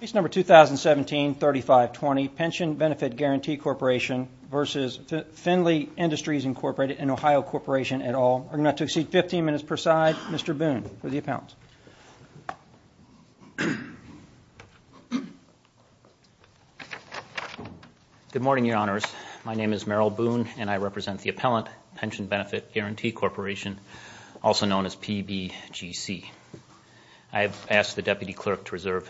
Case number 2017-3520, Pension Benefit Guaranty Corporation v. Findlay Industries Inc. and Ohio Corporation et al. We're going to have to exceed 15 minutes per side. Mr. Boone, for the appellant. Good morning, Your Honors. My name is Merrill Boone, and I represent the appellant, Pension Benefit Guaranty Corporation, also known as PBGC. I have asked the Deputy Clerk to reserve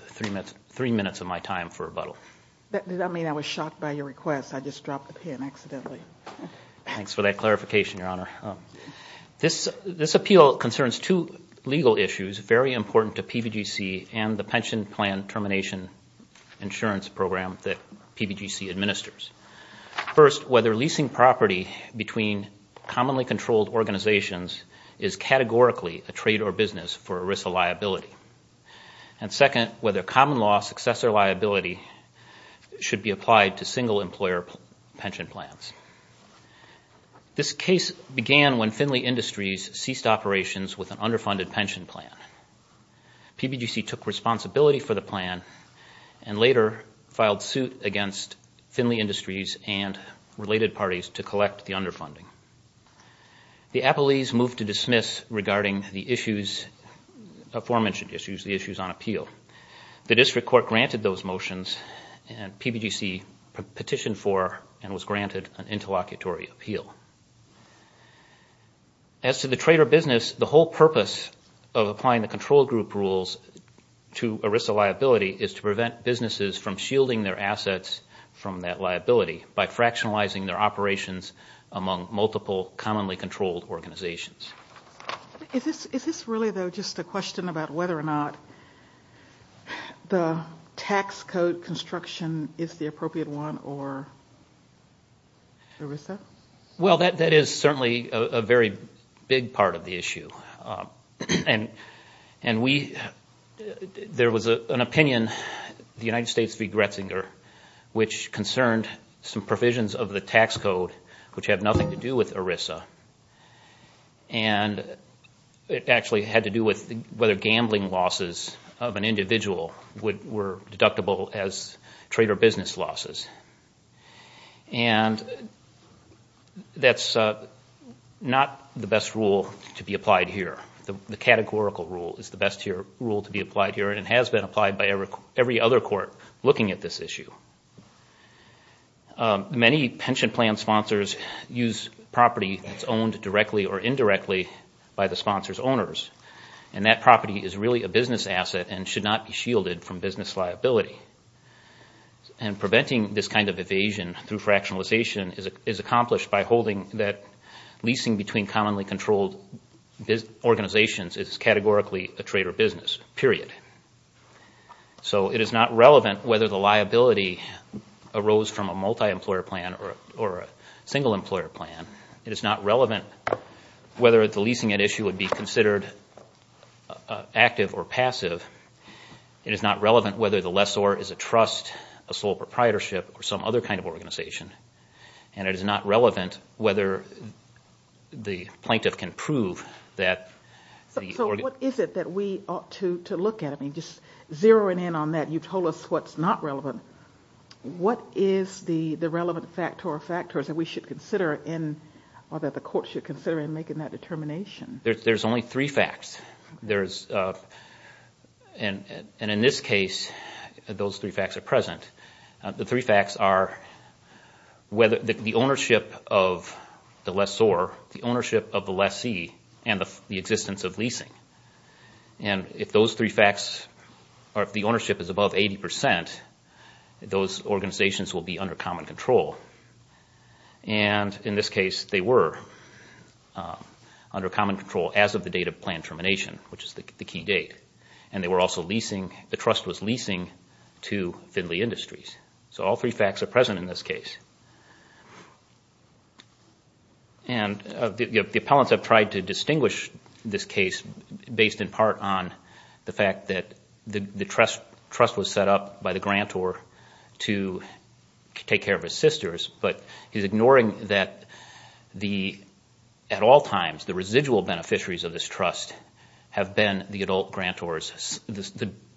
three minutes of my time for rebuttal. Did that mean I was shocked by your request? I just dropped the pen accidentally. Thanks for that clarification, Your Honor. This appeal concerns two legal issues very important to PBGC and the Pension Plan Termination Insurance Program that PBGC administers. First, whether leasing property between commonly controlled organizations is categorically a trade or business for ERISA liability. And second, whether common law successor liability should be applied to single employer pension plans. This case began when Findlay Industries ceased operations with an underfunded pension plan. PBGC took responsibility for the plan and later filed suit against Findlay Industries and related parties to collect the underfunding. The appellees moved to dismiss regarding the aforementioned issues, the issues on appeal. The district court granted those motions, and PBGC petitioned for and was granted an interlocutory appeal. As to the trade or business, the whole purpose of applying the control group rules to ERISA liability is to prevent businesses from shielding their assets from that liability by fractionalizing their operations among multiple commonly controlled organizations. Is this really, though, just a question about whether or not the tax code construction is the appropriate one for ERISA? Well, that is certainly a very big part of the issue. And there was an opinion, the United States v. Gretzinger, which concerned some provisions of the tax code which have nothing to do with ERISA. And it actually had to do with whether gambling losses of an individual were deductible as trade or business losses. And that's not the best rule to be applied here. The categorical rule is the best rule to be applied here, and it has been applied by every other court looking at this issue. Many pension plan sponsors use property that's owned directly or indirectly by the sponsor's owners, and that property is really a business asset and should not be shielded from business liability. And preventing this kind of evasion through fractionalization is accomplished by holding that leasing between commonly controlled organizations is categorically a trade or business, period. So it is not relevant whether the liability arose from a multi-employer plan or a single-employer plan. It is not relevant whether the leasing at issue would be considered active or passive. It is not relevant whether the lessor is a trust, a sole proprietorship, or some other kind of organization. And it is not relevant whether the plaintiff can prove that the organization- So what is it that we ought to look at? I mean, just zeroing in on that, you told us what's not relevant. What is the relevant factor or factors that we should consider or that the court should consider in making that determination? There's only three facts. And in this case, those three facts are present. The three facts are the ownership of the lessor, the ownership of the lessee, and the existence of leasing. And if the ownership is above 80 percent, those organizations will be under common control. And in this case, they were under common control as of the date of plan termination, which is the key date. And they were also leasing-the trust was leasing to Finley Industries. So all three facts are present in this case. And the appellants have tried to distinguish this case based in part on the fact that the trust was set up by the grantor to take care of his sisters, but he's ignoring that at all times the residual beneficiaries of this trust have been the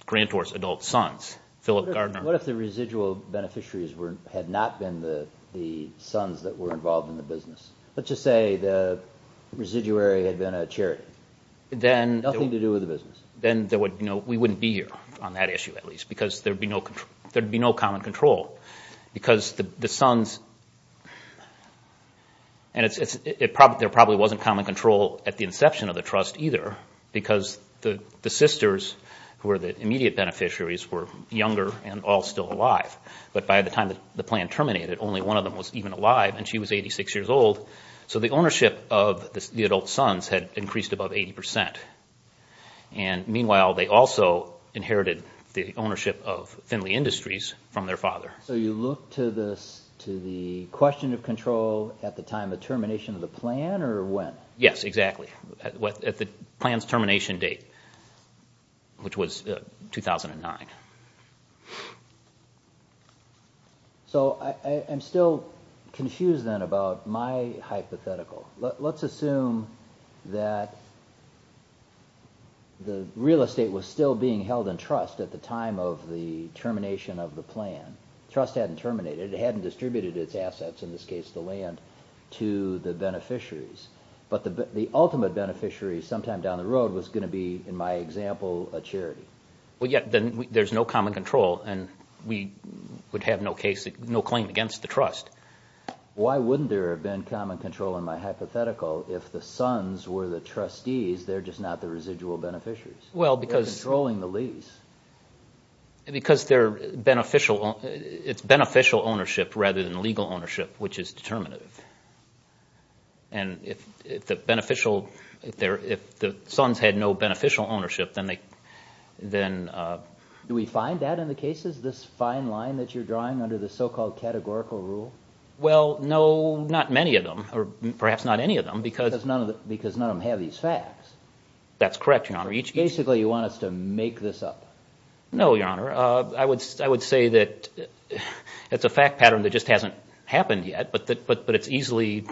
grantor's adult sons, Philip Gardner. What if the residual beneficiaries had not been the sons that were involved in the business? Let's just say the residuary had been a charity, nothing to do with the business. Then we wouldn't be here on that issue, at least, because there would be no common control. Because the sons-and there probably wasn't common control at the inception of the trust either, because the sisters, who were the immediate beneficiaries, were younger and all still alive. But by the time the plan terminated, only one of them was even alive, and she was 86 years old. So the ownership of the adult sons had increased above 80%. And meanwhile, they also inherited the ownership of Finley Industries from their father. So you look to the question of control at the time of termination of the plan, or when? Yes, exactly, at the plan's termination date, which was 2009. So I'm still confused then about my hypothetical. Let's assume that the real estate was still being held in trust at the time of the termination of the plan. Trust hadn't terminated. It hadn't distributed its assets, in this case the land, to the beneficiaries. But the ultimate beneficiary sometime down the road was going to be, in my example, a charity. Well, yet there's no common control, and we would have no claim against the trust. Why wouldn't there have been common control in my hypothetical if the sons were the trustees, they're just not the residual beneficiaries? Well, because they're controlling the lease. Because it's beneficial ownership rather than legal ownership, which is determinative. And if the sons had no beneficial ownership, then they... Do we find that in the cases, this fine line that you're drawing under the so-called categorical rule? Well, no, not many of them, or perhaps not any of them, because... Because none of them have these facts. That's correct, Your Honor. Basically, you want us to make this up. No, Your Honor. I would say that it's a fact pattern that just hasn't happened yet, but it's easily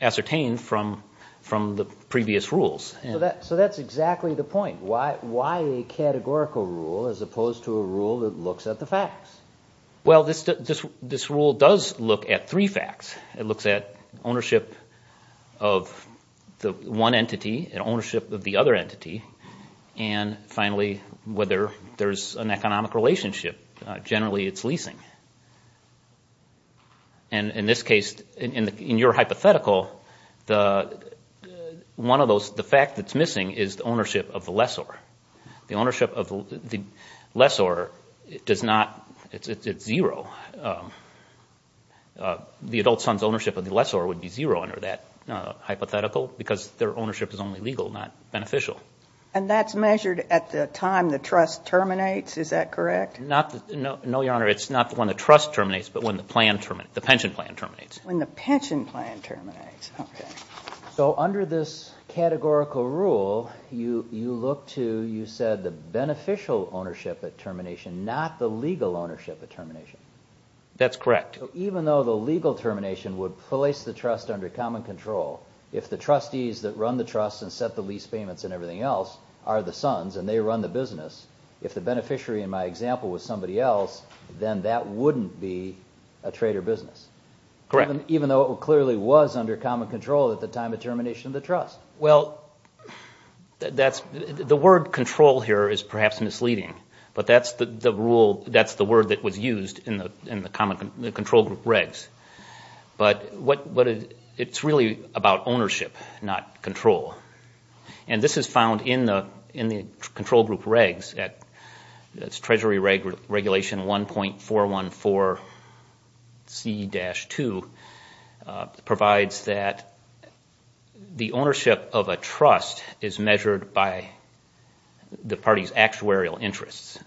ascertained from the previous rules. So that's exactly the point. Why a categorical rule as opposed to a rule that looks at the facts? Well, this rule does look at three facts. It looks at ownership of the one entity and ownership of the other entity, and finally, whether there's an economic relationship. Generally, it's leasing. And in this case, in your hypothetical, the fact that's missing is the ownership of the lessor. The ownership of the lessor does not... It's zero. The adult son's ownership of the lessor would be zero under that hypothetical because their ownership is only legal, not beneficial. And that's measured at the time the trust terminates. Is that correct? No, Your Honor. It's not when the trust terminates, but when the pension plan terminates. When the pension plan terminates. Okay. So under this categorical rule, you look to, you said, the beneficial ownership at termination, not the legal ownership at termination. That's correct. Even though the legal termination would place the trust under common control, if the trustees that run the trust and set the lease payments and everything else are the sons and they run the business, if the beneficiary, in my example, was somebody else, then that wouldn't be a trader business. Correct. Even though it clearly was under common control at the time of termination of the trust. Well, the word control here is perhaps misleading, but that's the word that was used in the control group regs. But it's really about ownership, not control. And this is found in the control group regs, that's Treasury Regulation 1.414C-2, provides that the ownership of a trust is measured by the party's actuarial interests.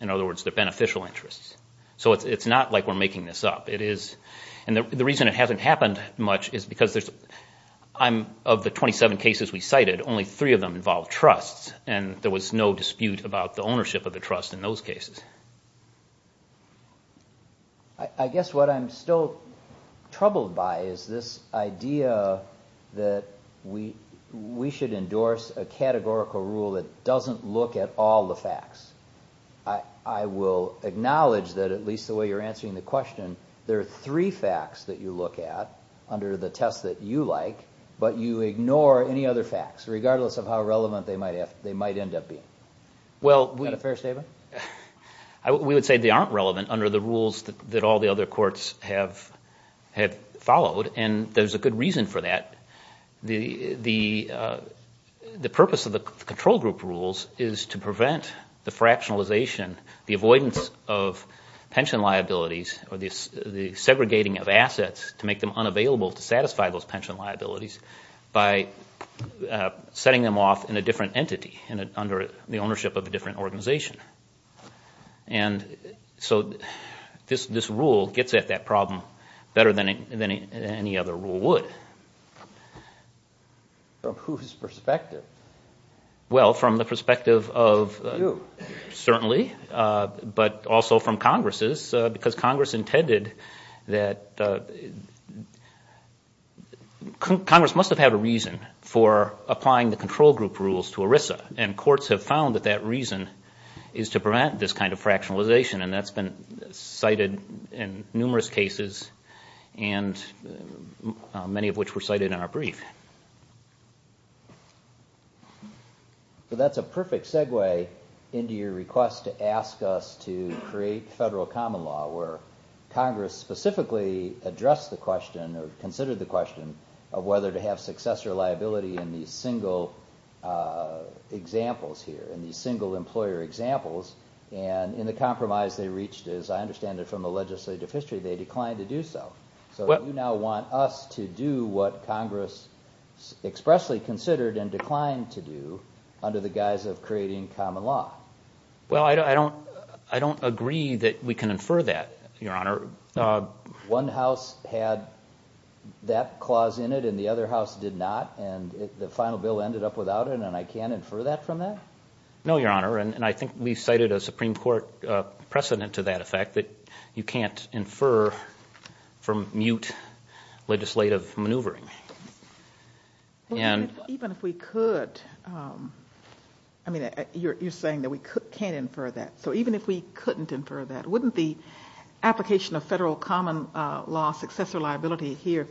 In other words, their beneficial interests. So it's not like we're making this up. And the reason it hasn't happened much is because of the 27 cases we cited, only three of them involved trusts, and there was no dispute about the ownership of the trust in those cases. I guess what I'm still troubled by is this idea that we should endorse a categorical rule that doesn't look at all the facts. I will acknowledge that at least the way you're answering the question, there are three facts that you look at under the test that you like, but you ignore any other facts, regardless of how relevant they might end up being. Is that a fair statement? We would say they aren't relevant under the rules that all the other courts have followed, and there's a good reason for that. The purpose of the control group rules is to prevent the fractionalization, the avoidance of pension liabilities, or the segregating of assets to make them unavailable to satisfy those pension liabilities, by setting them off in a different entity under the ownership of a different organization. And so this rule gets at that problem better than any other rule would. From whose perspective? Well, from the perspective of you, certainly, but also from Congress's, because Congress intended that Congress must have had a reason for applying the control group rules to ERISA, and courts have found that that reason is to prevent this kind of fractionalization, and that's been cited in numerous cases, many of which were cited in our brief. So that's a perfect segue into your request to ask us to create federal common law, where Congress specifically addressed the question, or considered the question, of whether to have successor liability in these single examples here, in these single employer examples, and in the compromise they reached, as I understand it from the legislative history, they declined to do so. So you now want us to do what Congress expressly considered and declined to do under the guise of creating common law. Well, I don't agree that we can infer that, Your Honor. One house had that clause in it, and the other house did not, and the final bill ended up without it, and I can't infer that from that? No, Your Honor, and I think we've cited a Supreme Court precedent to that effect, that you can't infer from mute legislative maneuvering. Even if we could, I mean, you're saying that we can't infer that. So even if we couldn't infer that, wouldn't the application of federal common law successor liability here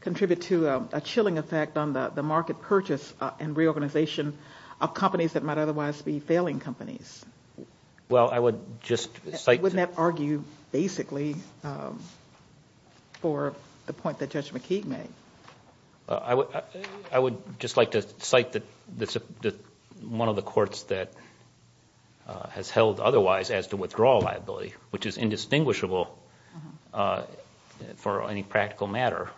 contribute to a chilling effect on the market purchase and reorganization of companies that might otherwise be failing companies? Well, I would just cite to you. Wouldn't that argue basically for the point that Judge McKeague made? I would just like to cite one of the courts that has held otherwise as to withdrawal liability, which is indistinguishable for any practical matter.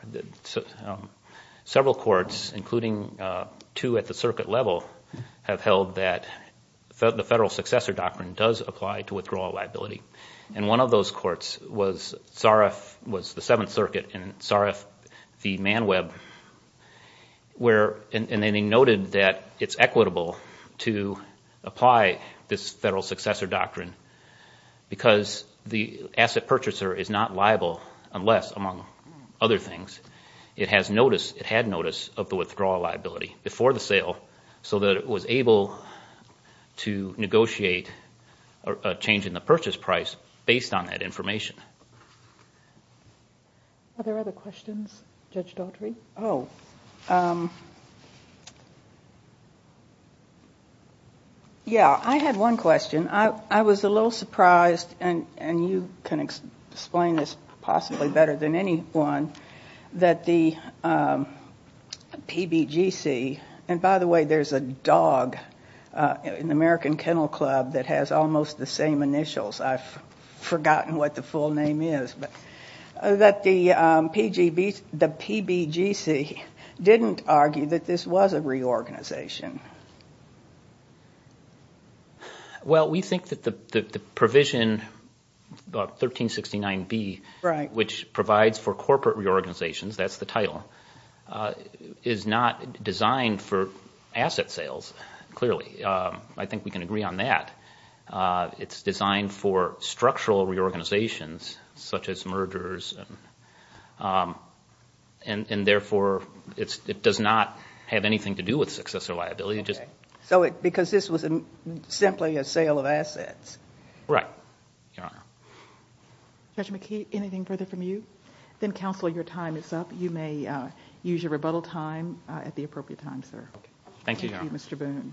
Several courts, including two at the circuit level, have held that the federal successor doctrine does apply to withdrawal liability, and one of those courts was Sarif, was the Seventh Circuit, and Sarif v. Manweb, and they noted that it's equitable to apply this federal successor doctrine because the asset purchaser is not liable unless, among other things, it has notice, it had notice of the withdrawal liability before the sale so that it was able to negotiate a change in the purchase price based on that information. Are there other questions, Judge Daughtry? Oh. Yeah, I had one question. I was a little surprised, and you can explain this possibly better than anyone, that the PBGC, and by the way, there's a dog in the American Kennel Club that has almost the same initials. I've forgotten what the full name is, but that the PBGC didn't argue that this was a reorganization. Well, we think that the provision 1369B, which provides for corporate reorganizations, that's the title, is not designed for asset sales, clearly. I think we can agree on that. It's designed for structural reorganizations such as mergers, and therefore it does not have anything to do with successor liability. Okay. Because this was simply a sale of assets. Right, Your Honor. Judge McKee, anything further from you? Then, Counselor, your time is up. You may use your rebuttal time at the appropriate time, sir. Thank you, Your Honor. Thank you, Mr. Boone.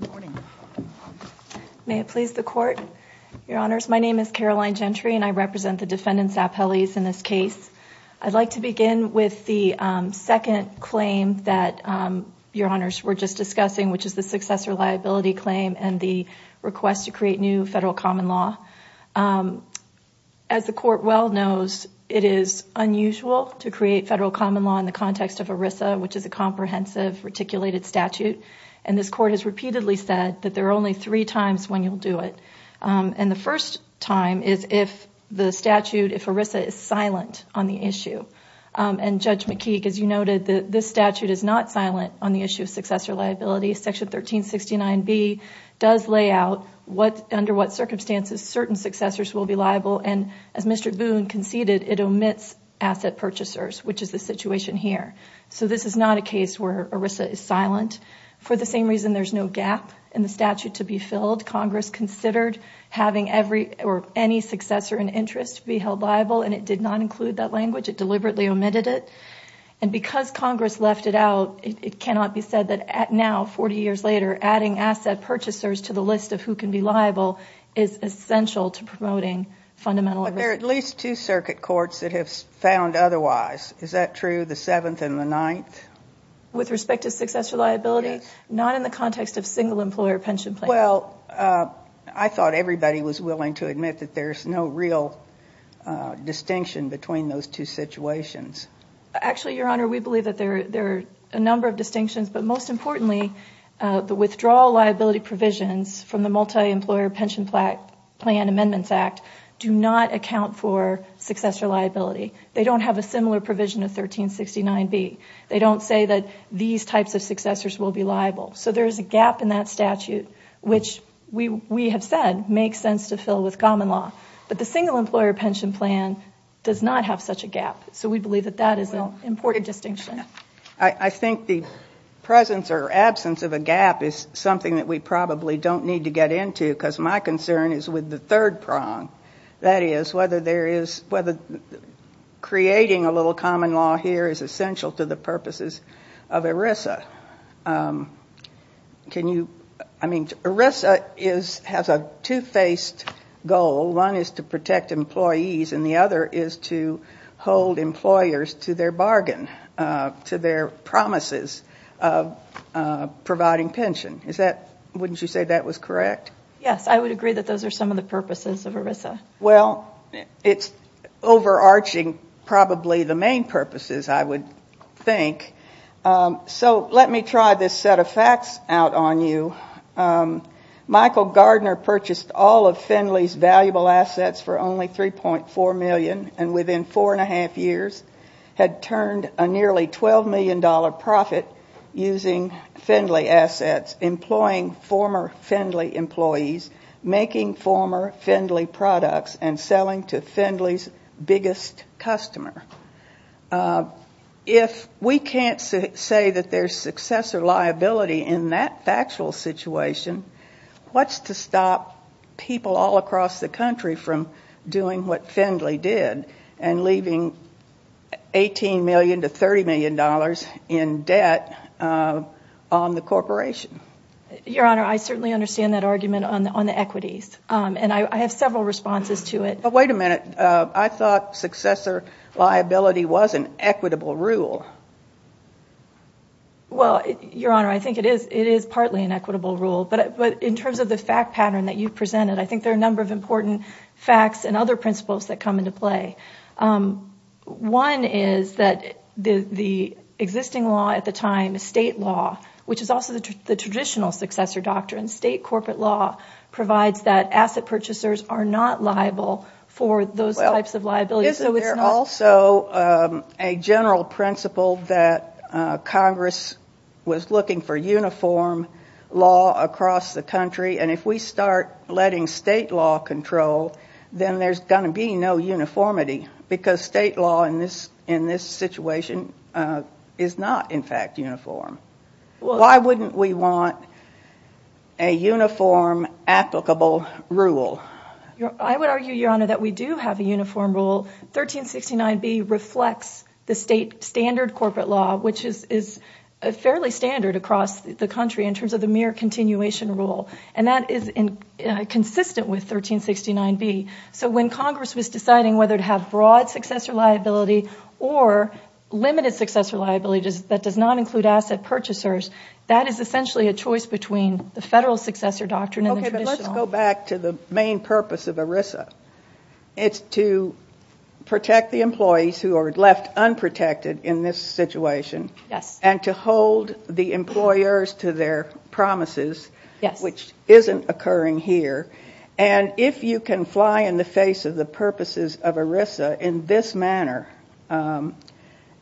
Good morning. May it please the Court, Your Honors. My name is Caroline Gentry, and I represent the defendants' appellees in this case. I'd like to begin with the second claim that Your Honors were just discussing, which is the successor liability claim and the request to create new federal common law. As the Court well knows, it is unusual to create federal common law in the context of ERISA, which is a comprehensive, reticulated statute. And this Court has repeatedly said that there are only three times when you'll do it. And the first time is if the statute, if ERISA, is silent on the issue. And Judge McKee, as you noted, this statute is not silent on the issue of successor liability. Section 1369B does lay out under what circumstances certain successors will be liable. And as Mr. Boone conceded, it omits asset purchasers, which is the situation here. So this is not a case where ERISA is silent. For the same reason there's no gap in the statute to be filled, Congress considered having any successor in interest be held liable, and it did not include that language. It deliberately omitted it. And because Congress left it out, it cannot be said that now, 40 years later, adding asset purchasers to the list of who can be liable is essential to promoting fundamental ERISA. But there are at least two circuit courts that have found otherwise. Is that true, the Seventh and the Ninth? With respect to successor liability? Yes. Not in the context of single-employer pension plans. Well, I thought everybody was willing to admit that there's no real distinction between those two situations. Actually, Your Honor, we believe that there are a number of distinctions. But most importantly, the withdrawal liability provisions from the Multi-Employer Pension Plan Amendments Act do not account for successor liability. They don't have a similar provision of 1369B. They don't say that these types of successors will be liable. So there is a gap in that statute, which we have said makes sense to fill with common law. But the single-employer pension plan does not have such a gap. So we believe that that is an important distinction. I think the presence or absence of a gap is something that we probably don't need to get into because my concern is with the third prong. That is, whether creating a little common law here is essential to the purposes of ERISA. I mean, ERISA has a two-faced goal. One is to protect employees, and the other is to hold employers to their bargain, to their promises of providing pension. Wouldn't you say that was correct? Yes, I would agree that those are some of the purposes of ERISA. Well, it's overarching probably the main purposes, I would think. So let me try this set of facts out on you. Michael Gardner purchased all of Findley's valuable assets for only $3.4 million and within four and a half years had turned a nearly $12 million profit using Findley assets, employing former Findley employees, making former Findley products, and selling to Findley's biggest customer. If we can't say that there's successor liability in that factual situation, what's to stop people all across the country from doing what Findley did and leaving $18 million to $30 million in debt on the corporation? Your Honor, I certainly understand that argument on the equities, and I have several responses to it. But wait a minute. I thought successor liability was an equitable rule. Well, Your Honor, I think it is partly an equitable rule, but in terms of the fact pattern that you presented, I think there are a number of important facts and other principles that come into play. One is that the existing law at the time, state law, which is also the traditional successor doctrine, state corporate law, provides that asset purchasers are not liable for those types of liabilities. There's also a general principle that Congress was looking for uniform law across the country, and if we start letting state law control, then there's going to be no uniformity because state law in this situation is not, in fact, uniform. Why wouldn't we want a uniform applicable rule? I would argue, Your Honor, that we do have a uniform rule. 1369B reflects the state standard corporate law, which is fairly standard across the country in terms of the mere continuation rule, and that is consistent with 1369B. So when Congress was deciding whether to have broad successor liability or limited successor liability that does not include asset purchasers, that is essentially a choice between the federal successor doctrine and the traditional. Okay, but let's go back to the main purpose of ERISA. It's to protect the employees who are left unprotected in this situation and to hold the employers to their promises, which isn't occurring here, and if you can fly in the face of the purposes of ERISA in this manner,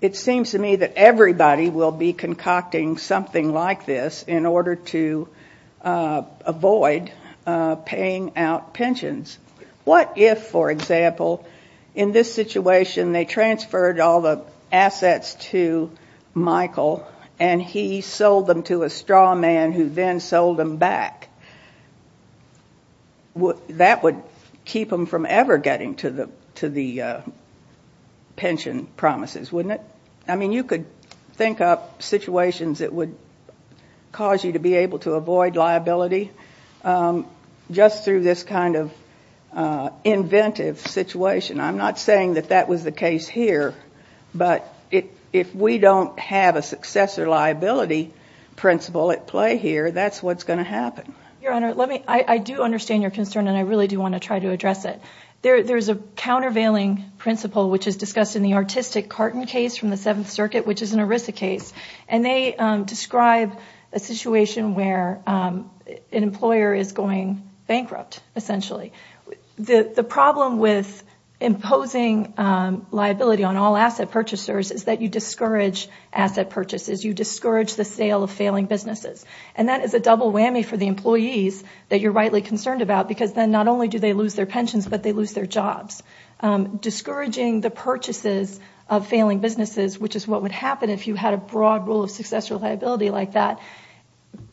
it seems to me that everybody will be concocting something like this in order to avoid paying out pensions. What if, for example, in this situation they transferred all the assets to Michael and he sold them to a straw man who then sold them back? That would keep them from ever getting to the pension promises, wouldn't it? I mean, you could think up situations that would cause you to be able to avoid liability just through this kind of inventive situation. I'm not saying that that was the case here, but if we don't have a successor liability principle at play here, that's what's going to happen. Your Honor, I do understand your concern and I really do want to try to address it. There is a countervailing principle which is discussed in the artistic carton case from the Seventh Circuit, which is an ERISA case, and they describe a situation where an employer is going bankrupt, essentially. The problem with imposing liability on all asset purchasers is that you discourage asset purchases. You discourage the sale of failing businesses, and that is a double whammy for the employees that you're rightly concerned about because then not only do they lose their pensions, but they lose their jobs. Discouraging the purchases of failing businesses, which is what would happen if you had a broad rule of successor liability like that,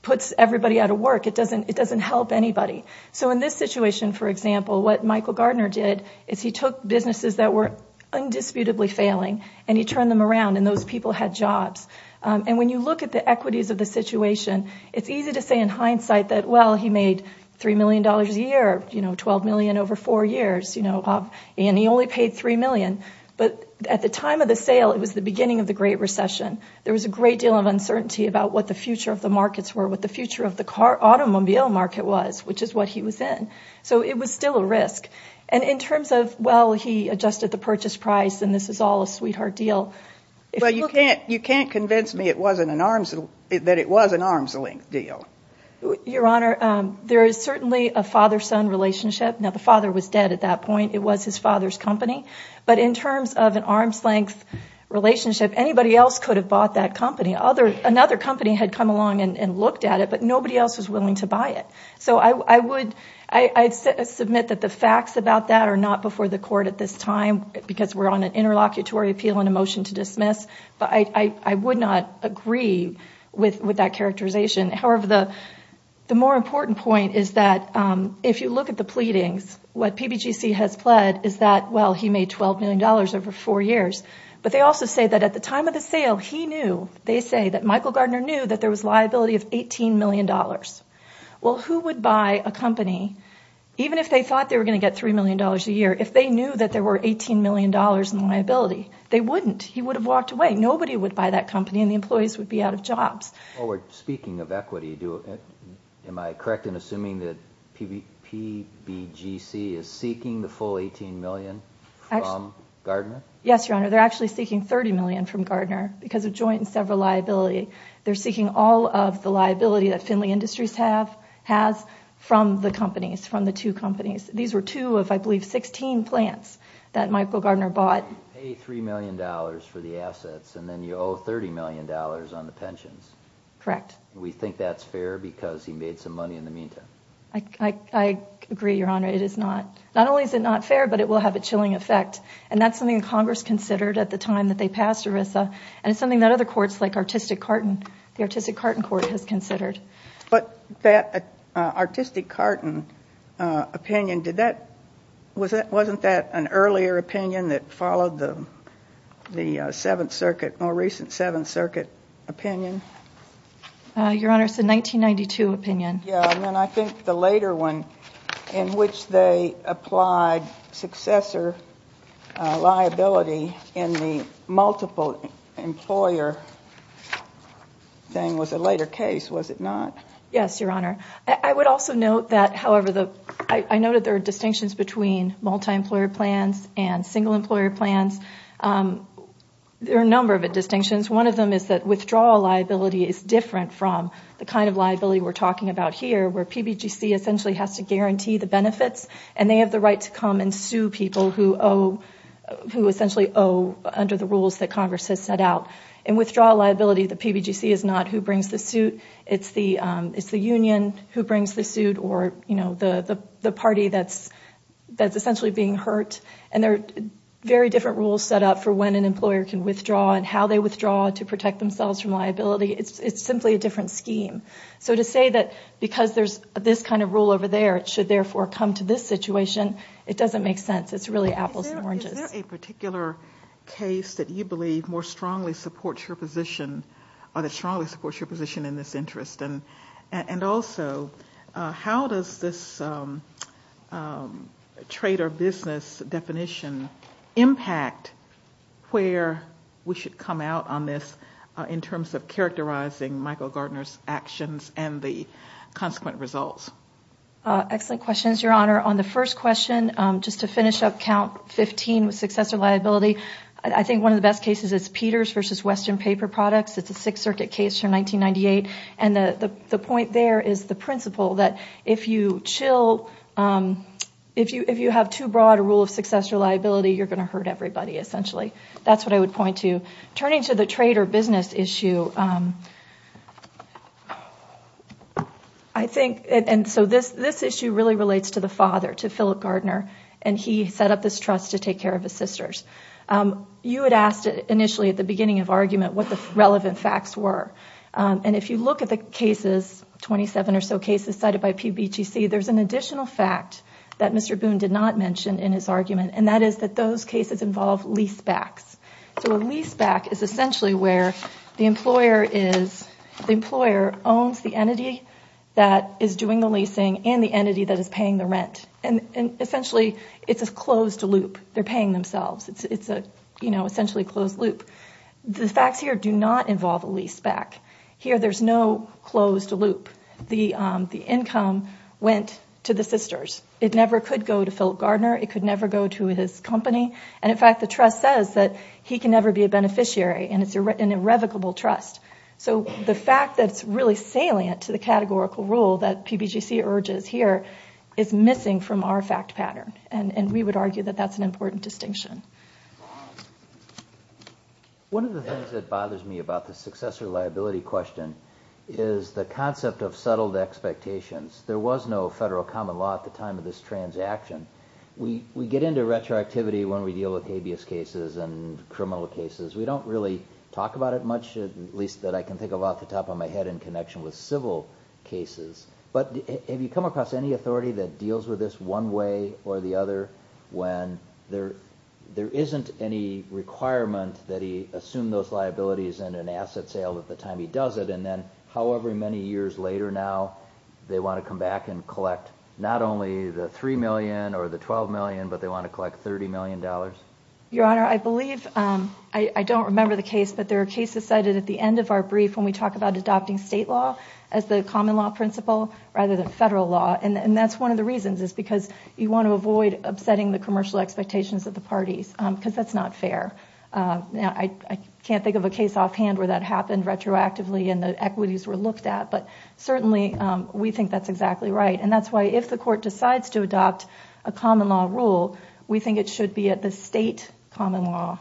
puts everybody out of work. It doesn't help anybody. In this situation, for example, what Michael Gardner did is he took businesses that were undisputedly failing and he turned them around and those people had jobs. When you look at the equities of the situation, it's easy to say in hindsight that, well, he made $3 million a year, $12 million over four years, and he only paid $3 million. But at the time of the sale, it was the beginning of the Great Recession. There was a great deal of uncertainty about what the future of the markets were, what the future of the automobile market was, which is what he was in. So it was still a risk. And in terms of, well, he adjusted the purchase price and this is all a sweetheart deal. Well, you can't convince me that it was an arm's length deal. Your Honor, there is certainly a father-son relationship. Now, the father was dead at that point. It was his father's company. But in terms of an arm's length relationship, anybody else could have bought that company. Another company had come along and looked at it, but nobody else was willing to buy it. So I would submit that the facts about that are not before the court at this time because we're on an interlocutory appeal and a motion to dismiss. But I would not agree with that characterization. However, the more important point is that if you look at the pleadings, what PBGC has pled is that, well, he made $12 million over four years. But they also say that at the time of the sale, he knew. They say that Michael Gardner knew that there was liability of $18 million. Well, who would buy a company, even if they thought they were going to get $3 million a year, if they knew that there were $18 million in liability? They wouldn't. He would have walked away. Nobody would buy that company and the employees would be out of jobs. Well, speaking of equity, am I correct in assuming that PBGC is seeking the full $18 million from Gardner? Yes, Your Honor. They're actually seeking $30 million from Gardner because of joint and several liability. They're seeking all of the liability that Findlay Industries has from the companies, from the two companies. These were two of, I believe, 16 plants that Michael Gardner bought. You pay $3 million for the assets and then you owe $30 million on the pensions. Correct. We think that's fair because he made some money in the meantime. I agree, Your Honor. Not only is it not fair, but it will have a chilling effect. And that's something Congress considered at the time that they passed ERISA, and it's something that other courts like the Artistic Carton Court has considered. But that Artistic Carton opinion, wasn't that an earlier opinion that followed the Seventh Circuit, more recent Seventh Circuit opinion? Your Honor, it's a 1992 opinion. Yes, and I think the later one in which they applied successor liability in the multiple employer thing was a later case, was it not? Yes, Your Honor. I would also note that, however, I noted there are distinctions between multi-employer plans and single-employer plans. There are a number of distinctions. One of them is that withdrawal liability is different from the kind of liability we're talking about here, where PBGC essentially has to guarantee the benefits, and they have the right to come and sue people who essentially owe under the rules that Congress has set out. In withdrawal liability, the PBGC is not who brings the suit. It's the union who brings the suit or the party that's essentially being hurt. And there are very different rules set up for when an employer can withdraw and how they withdraw to protect themselves from liability. It's simply a different scheme. So to say that because there's this kind of rule over there, it should therefore come to this situation, it doesn't make sense. It's really apples and oranges. Is there a particular case that you believe more strongly supports your position, or that strongly supports your position in this interest? And also, how does this trade or business definition impact where we should come out on this in terms of characterizing Michael Gardner's actions and the consequent results? Excellent questions, Your Honor. On the first question, just to finish up Count 15 with successor liability, I think one of the best cases is Peters v. Western Paper Products. It's a Sixth Circuit case from 1998. And the point there is the principle that if you have too broad a rule of successor liability, you're going to hurt everybody, essentially. That's what I would point to. Turning to the trade or business issue, I think this issue really relates to the father, to Philip Gardner, and he set up this trust to take care of his sisters. You had asked initially at the beginning of the argument what the relevant facts were. And if you look at the cases, 27 or so cases cited by PBTC, there's an additional fact that Mr. Boone did not mention in his argument, and that is that those cases involve leasebacks. So a leaseback is essentially where the employer owns the entity that is doing the leasing and the entity that is paying the rent. And essentially, it's a closed loop. They're paying themselves. It's essentially a closed loop. The facts here do not involve a leaseback. Here, there's no closed loop. The income went to the sisters. It never could go to Philip Gardner. It could never go to his company. And, in fact, the trust says that he can never be a beneficiary, and it's an irrevocable trust. So the fact that's really salient to the categorical rule that PBGC urges here is missing from our fact pattern, and we would argue that that's an important distinction. One of the things that bothers me about the successor liability question is the concept of settled expectations. There was no federal common law at the time of this transaction. We get into retroactivity when we deal with habeas cases and criminal cases. We don't really talk about it much, at least that I can think of off the top of my head, in connection with civil cases. But have you come across any authority that deals with this one way or the other when there isn't any requirement that he assume those liabilities and an asset sale at the time he does it, and then however many years later now they want to come back and collect not only the $3 million or the $12 million, but they want to collect $30 million? Your Honor, I believe, I don't remember the case, but there are cases cited at the end of our brief when we talk about adopting state law as the common law principle rather than federal law. And that's one of the reasons is because you want to avoid upsetting the commercial expectations of the parties, because that's not fair. I can't think of a case offhand where that happened retroactively and the equities were looked at, but certainly we think that's exactly right. And that's why if the Court decides to adopt a common law rule, we think it should be at the state law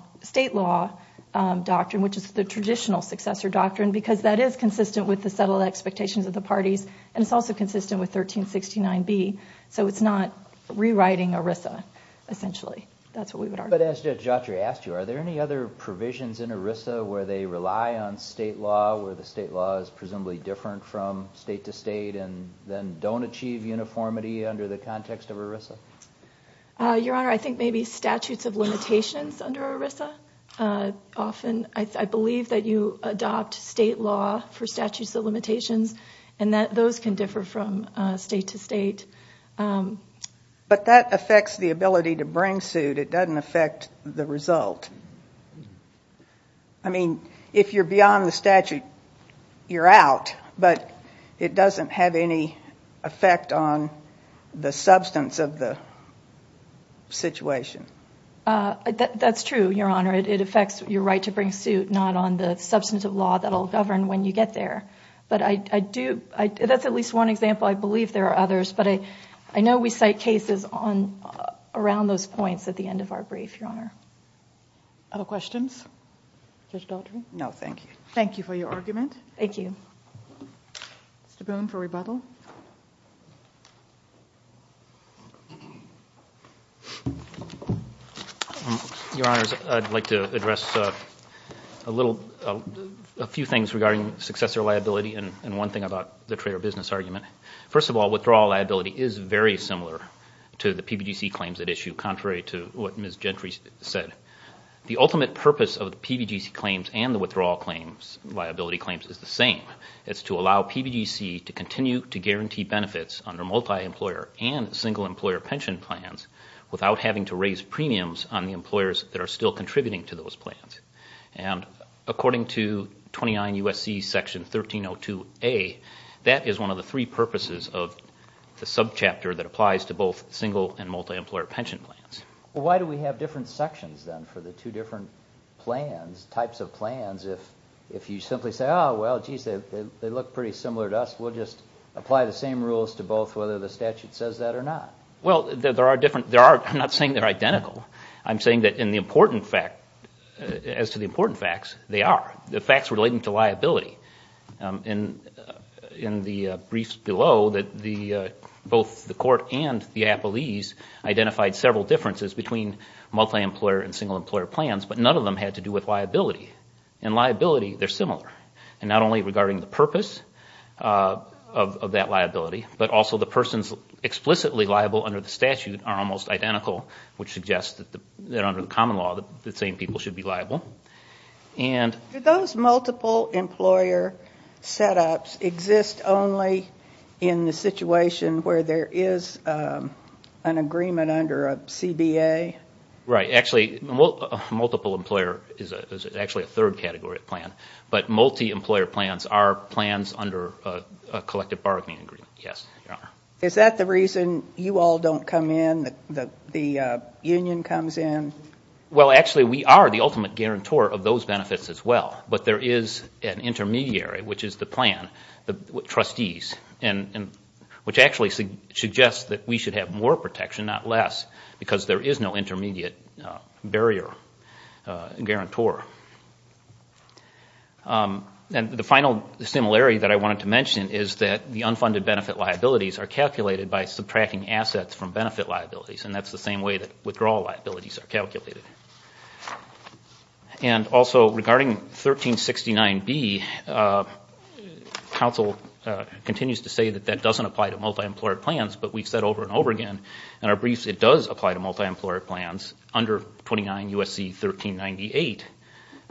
doctrine, which is the traditional successor doctrine, because that is consistent with the settled expectations of the parties, and it's also consistent with 1369B. So it's not rewriting ERISA, essentially. That's what we would argue. But as Judge Autry asked you, are there any other provisions in ERISA where they rely on state law, where the state law is presumably different from state to state and then don't achieve uniformity under the context of ERISA? Your Honor, I think maybe statutes of limitations under ERISA. I believe that you adopt state law for statutes of limitations, and those can differ from state to state. But that affects the ability to bring suit. It doesn't affect the result. I mean, if you're beyond the statute, you're out, but it doesn't have any effect on the substance of the situation. That's true, Your Honor. It affects your right to bring suit, not on the substantive law that will govern when you get there. But that's at least one example. I believe there are others. But I know we cite cases around those points at the end of our brief, Your Honor. Other questions? Judge Autry? No, thank you. Thank you for your argument. Thank you. Mr. Boone for rebuttal. Your Honors, I'd like to address a few things regarding successor liability and one thing about the trader business argument. First of all, withdrawal liability is very similar to the PBGC claims at issue, contrary to what Ms. Gentry said. The ultimate purpose of the PBGC claims and the withdrawal liability claims is the same. It's to allow PBGC to continue to guarantee benefits under multi-employer and single-employer pension plans without having to raise premiums on the employers that are still contributing to those plans. And according to 29 U.S.C. Section 1302A, that is one of the three purposes of the subchapter that applies to both single and multi-employer pension plans. Why do we have different sections then for the two different plans, types of plans, if you simply say, oh, well, geez, they look pretty similar to us, we'll just apply the same rules to both whether the statute says that or not? Well, there are different, I'm not saying they're identical. I'm saying that in the important fact, as to the important facts, they are. The facts relating to liability. In the briefs below, both the court and the appellees identified several differences between multi-employer and single-employer plans, but none of them had to do with liability. In liability, they're similar. And not only regarding the purpose of that liability, but also the persons explicitly liable under the statute are almost identical, which suggests that under the common law, the same people should be liable. Do those multiple-employer setups exist only in the situation where there is an agreement under a CBA? Right. Actually, multiple-employer is actually a third category of plan, but multi-employer plans are plans under a collective bargaining agreement, yes, Your Honor. Is that the reason you all don't come in, the union comes in? Well, actually, we are the ultimate guarantor of those benefits as well, but there is an intermediary, which is the plan, the trustees, which actually suggests that we should have more protection, not less, because there is no intermediate barrier guarantor. And the final similarity that I wanted to mention is that the unfunded benefit liabilities are calculated by subtracting assets from benefit liabilities, and that's the same way that withdrawal liabilities are calculated. And also, regarding 1369B, counsel continues to say that that doesn't apply to multi-employer plans, but we've said over and over again in our briefs it does apply to multi-employer plans under 29 U.S.C. 1398.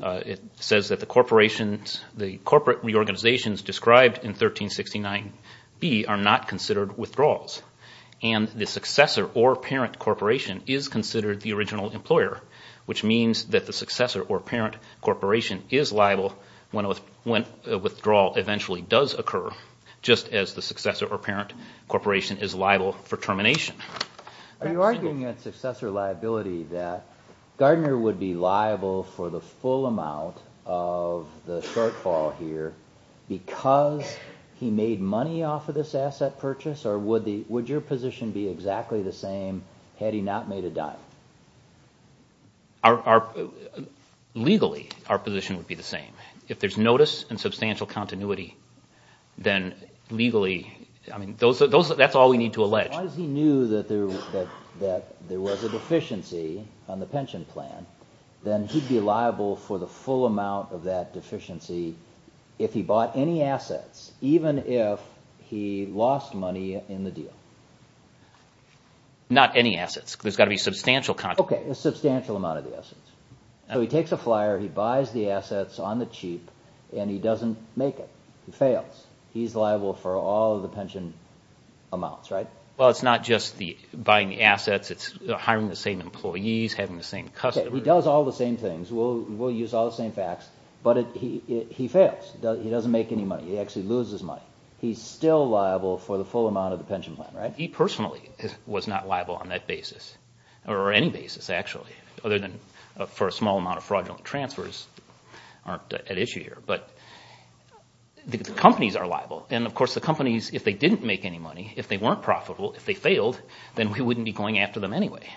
It says that the corporate reorganizations described in 1369B are not considered withdrawals, and the successor or parent corporation is considered the original employer, which means that the successor or parent corporation is liable when a withdrawal eventually does occur, just as the successor or parent corporation is liable for termination. Are you arguing at successor liability that Gardner would be liable for the full amount of the shortfall here because he made money off of this asset purchase, or would your position be exactly the same had he not made a dime? Legally, our position would be the same. If there's notice and substantial continuity, then legally, that's all we need to allege. If he knew that there was a deficiency on the pension plan, then he'd be liable for the full amount of that deficiency if he bought any assets, even if he lost money in the deal. Not any assets. There's got to be substantial continuity. Okay, a substantial amount of the assets. So he takes a flyer, he buys the assets on the cheap, and he doesn't make it. He fails. He's liable for all of the pension amounts, right? Well, it's not just buying the assets. It's hiring the same employees, having the same customers. Okay, he does all the same things. We'll use all the same facts, but he fails. He doesn't make any money. He actually loses money. He's still liable for the full amount of the pension plan, right? He personally was not liable on that basis, or any basis, actually, other than for a small amount of fraudulent transfers aren't at issue here. But the companies are liable, and of course the companies, if they didn't make any money, if they weren't profitable, if they failed, then we wouldn't be going after them anyway.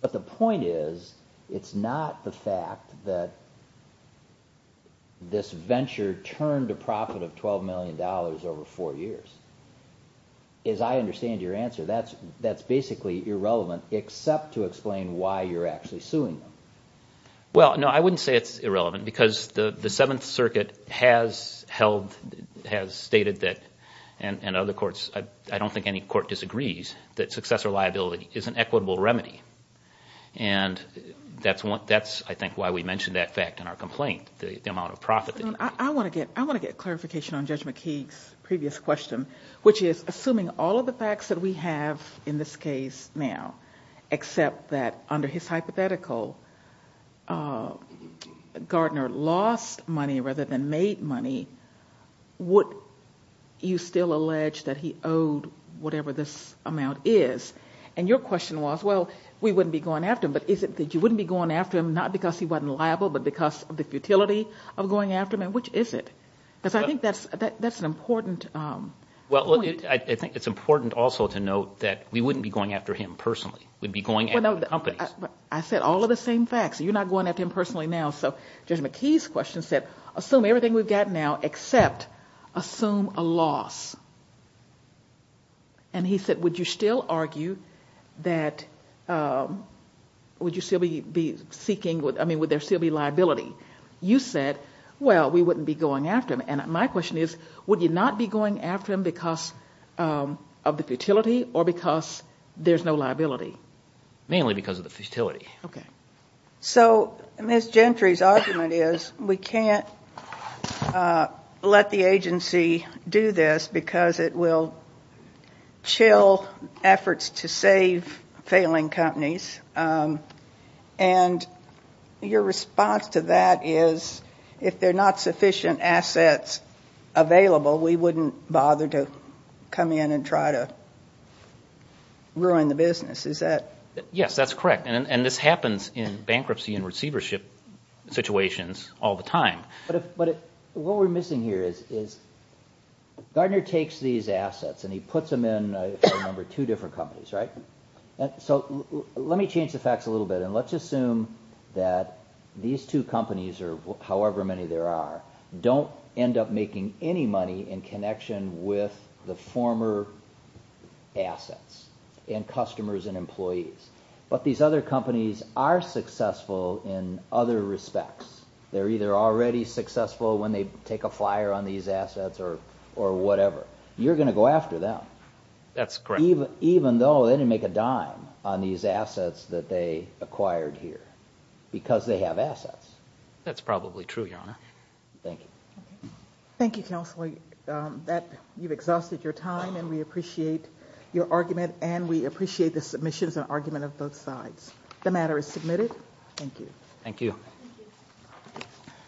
But the point is it's not the fact that this venture turned a profit of $12 million over four years. As I understand your answer, that's basically irrelevant except to explain why you're actually suing them. Well, no, I wouldn't say it's irrelevant because the Seventh Circuit has held, has stated that, and other courts, I don't think any court disagrees, that successor liability is an equitable remedy. And that's, I think, why we mentioned that fact in our complaint, the amount of profit. I want to get clarification on Judge McKeague's previous question, which is, assuming all of the facts that we have in this case now, except that under his hypothetical, Gardner lost money rather than made money, would you still allege that he owed whatever this amount is? And your question was, well, we wouldn't be going after him, but is it that you wouldn't be going after him not because he wasn't liable, but because of the futility of going after him, and which is it? Because I think that's an important point. Well, I think it's important also to note that we wouldn't be going after him personally. We'd be going after the companies. I said all of the same facts. You're not going after him personally now. So Judge McKeague's question said, assume everything we've got now except assume a loss. And he said, would you still argue that, would you still be seeking, I mean, would there still be liability? You said, well, we wouldn't be going after him. And my question is, would you not be going after him because of the futility or because there's no liability? Mainly because of the futility. Okay. So Ms. Gentry's argument is we can't let the agency do this because it will chill efforts to save failing companies. And your response to that is if there are not sufficient assets available, we wouldn't bother to come in and try to ruin the business, is that? Yes, that's correct. And this happens in bankruptcy and receivership situations all the time. But what we're missing here is Gardner takes these assets and he puts them in, if I remember, two different companies, right? So let me change the facts a little bit. And let's assume that these two companies, or however many there are, don't end up making any money in connection with the former assets and customers and employees. But these other companies are successful in other respects. They're either already successful when they take a flyer on these assets or whatever. You're going to go after them. That's correct. Even though they didn't make a dime on these assets that they acquired here because they have assets. That's probably true, Your Honor. Thank you. Thank you, Counselor. You've exhausted your time and we appreciate your argument and we appreciate the submissions and argument of both sides. The matter is submitted. Thank you. Thank you.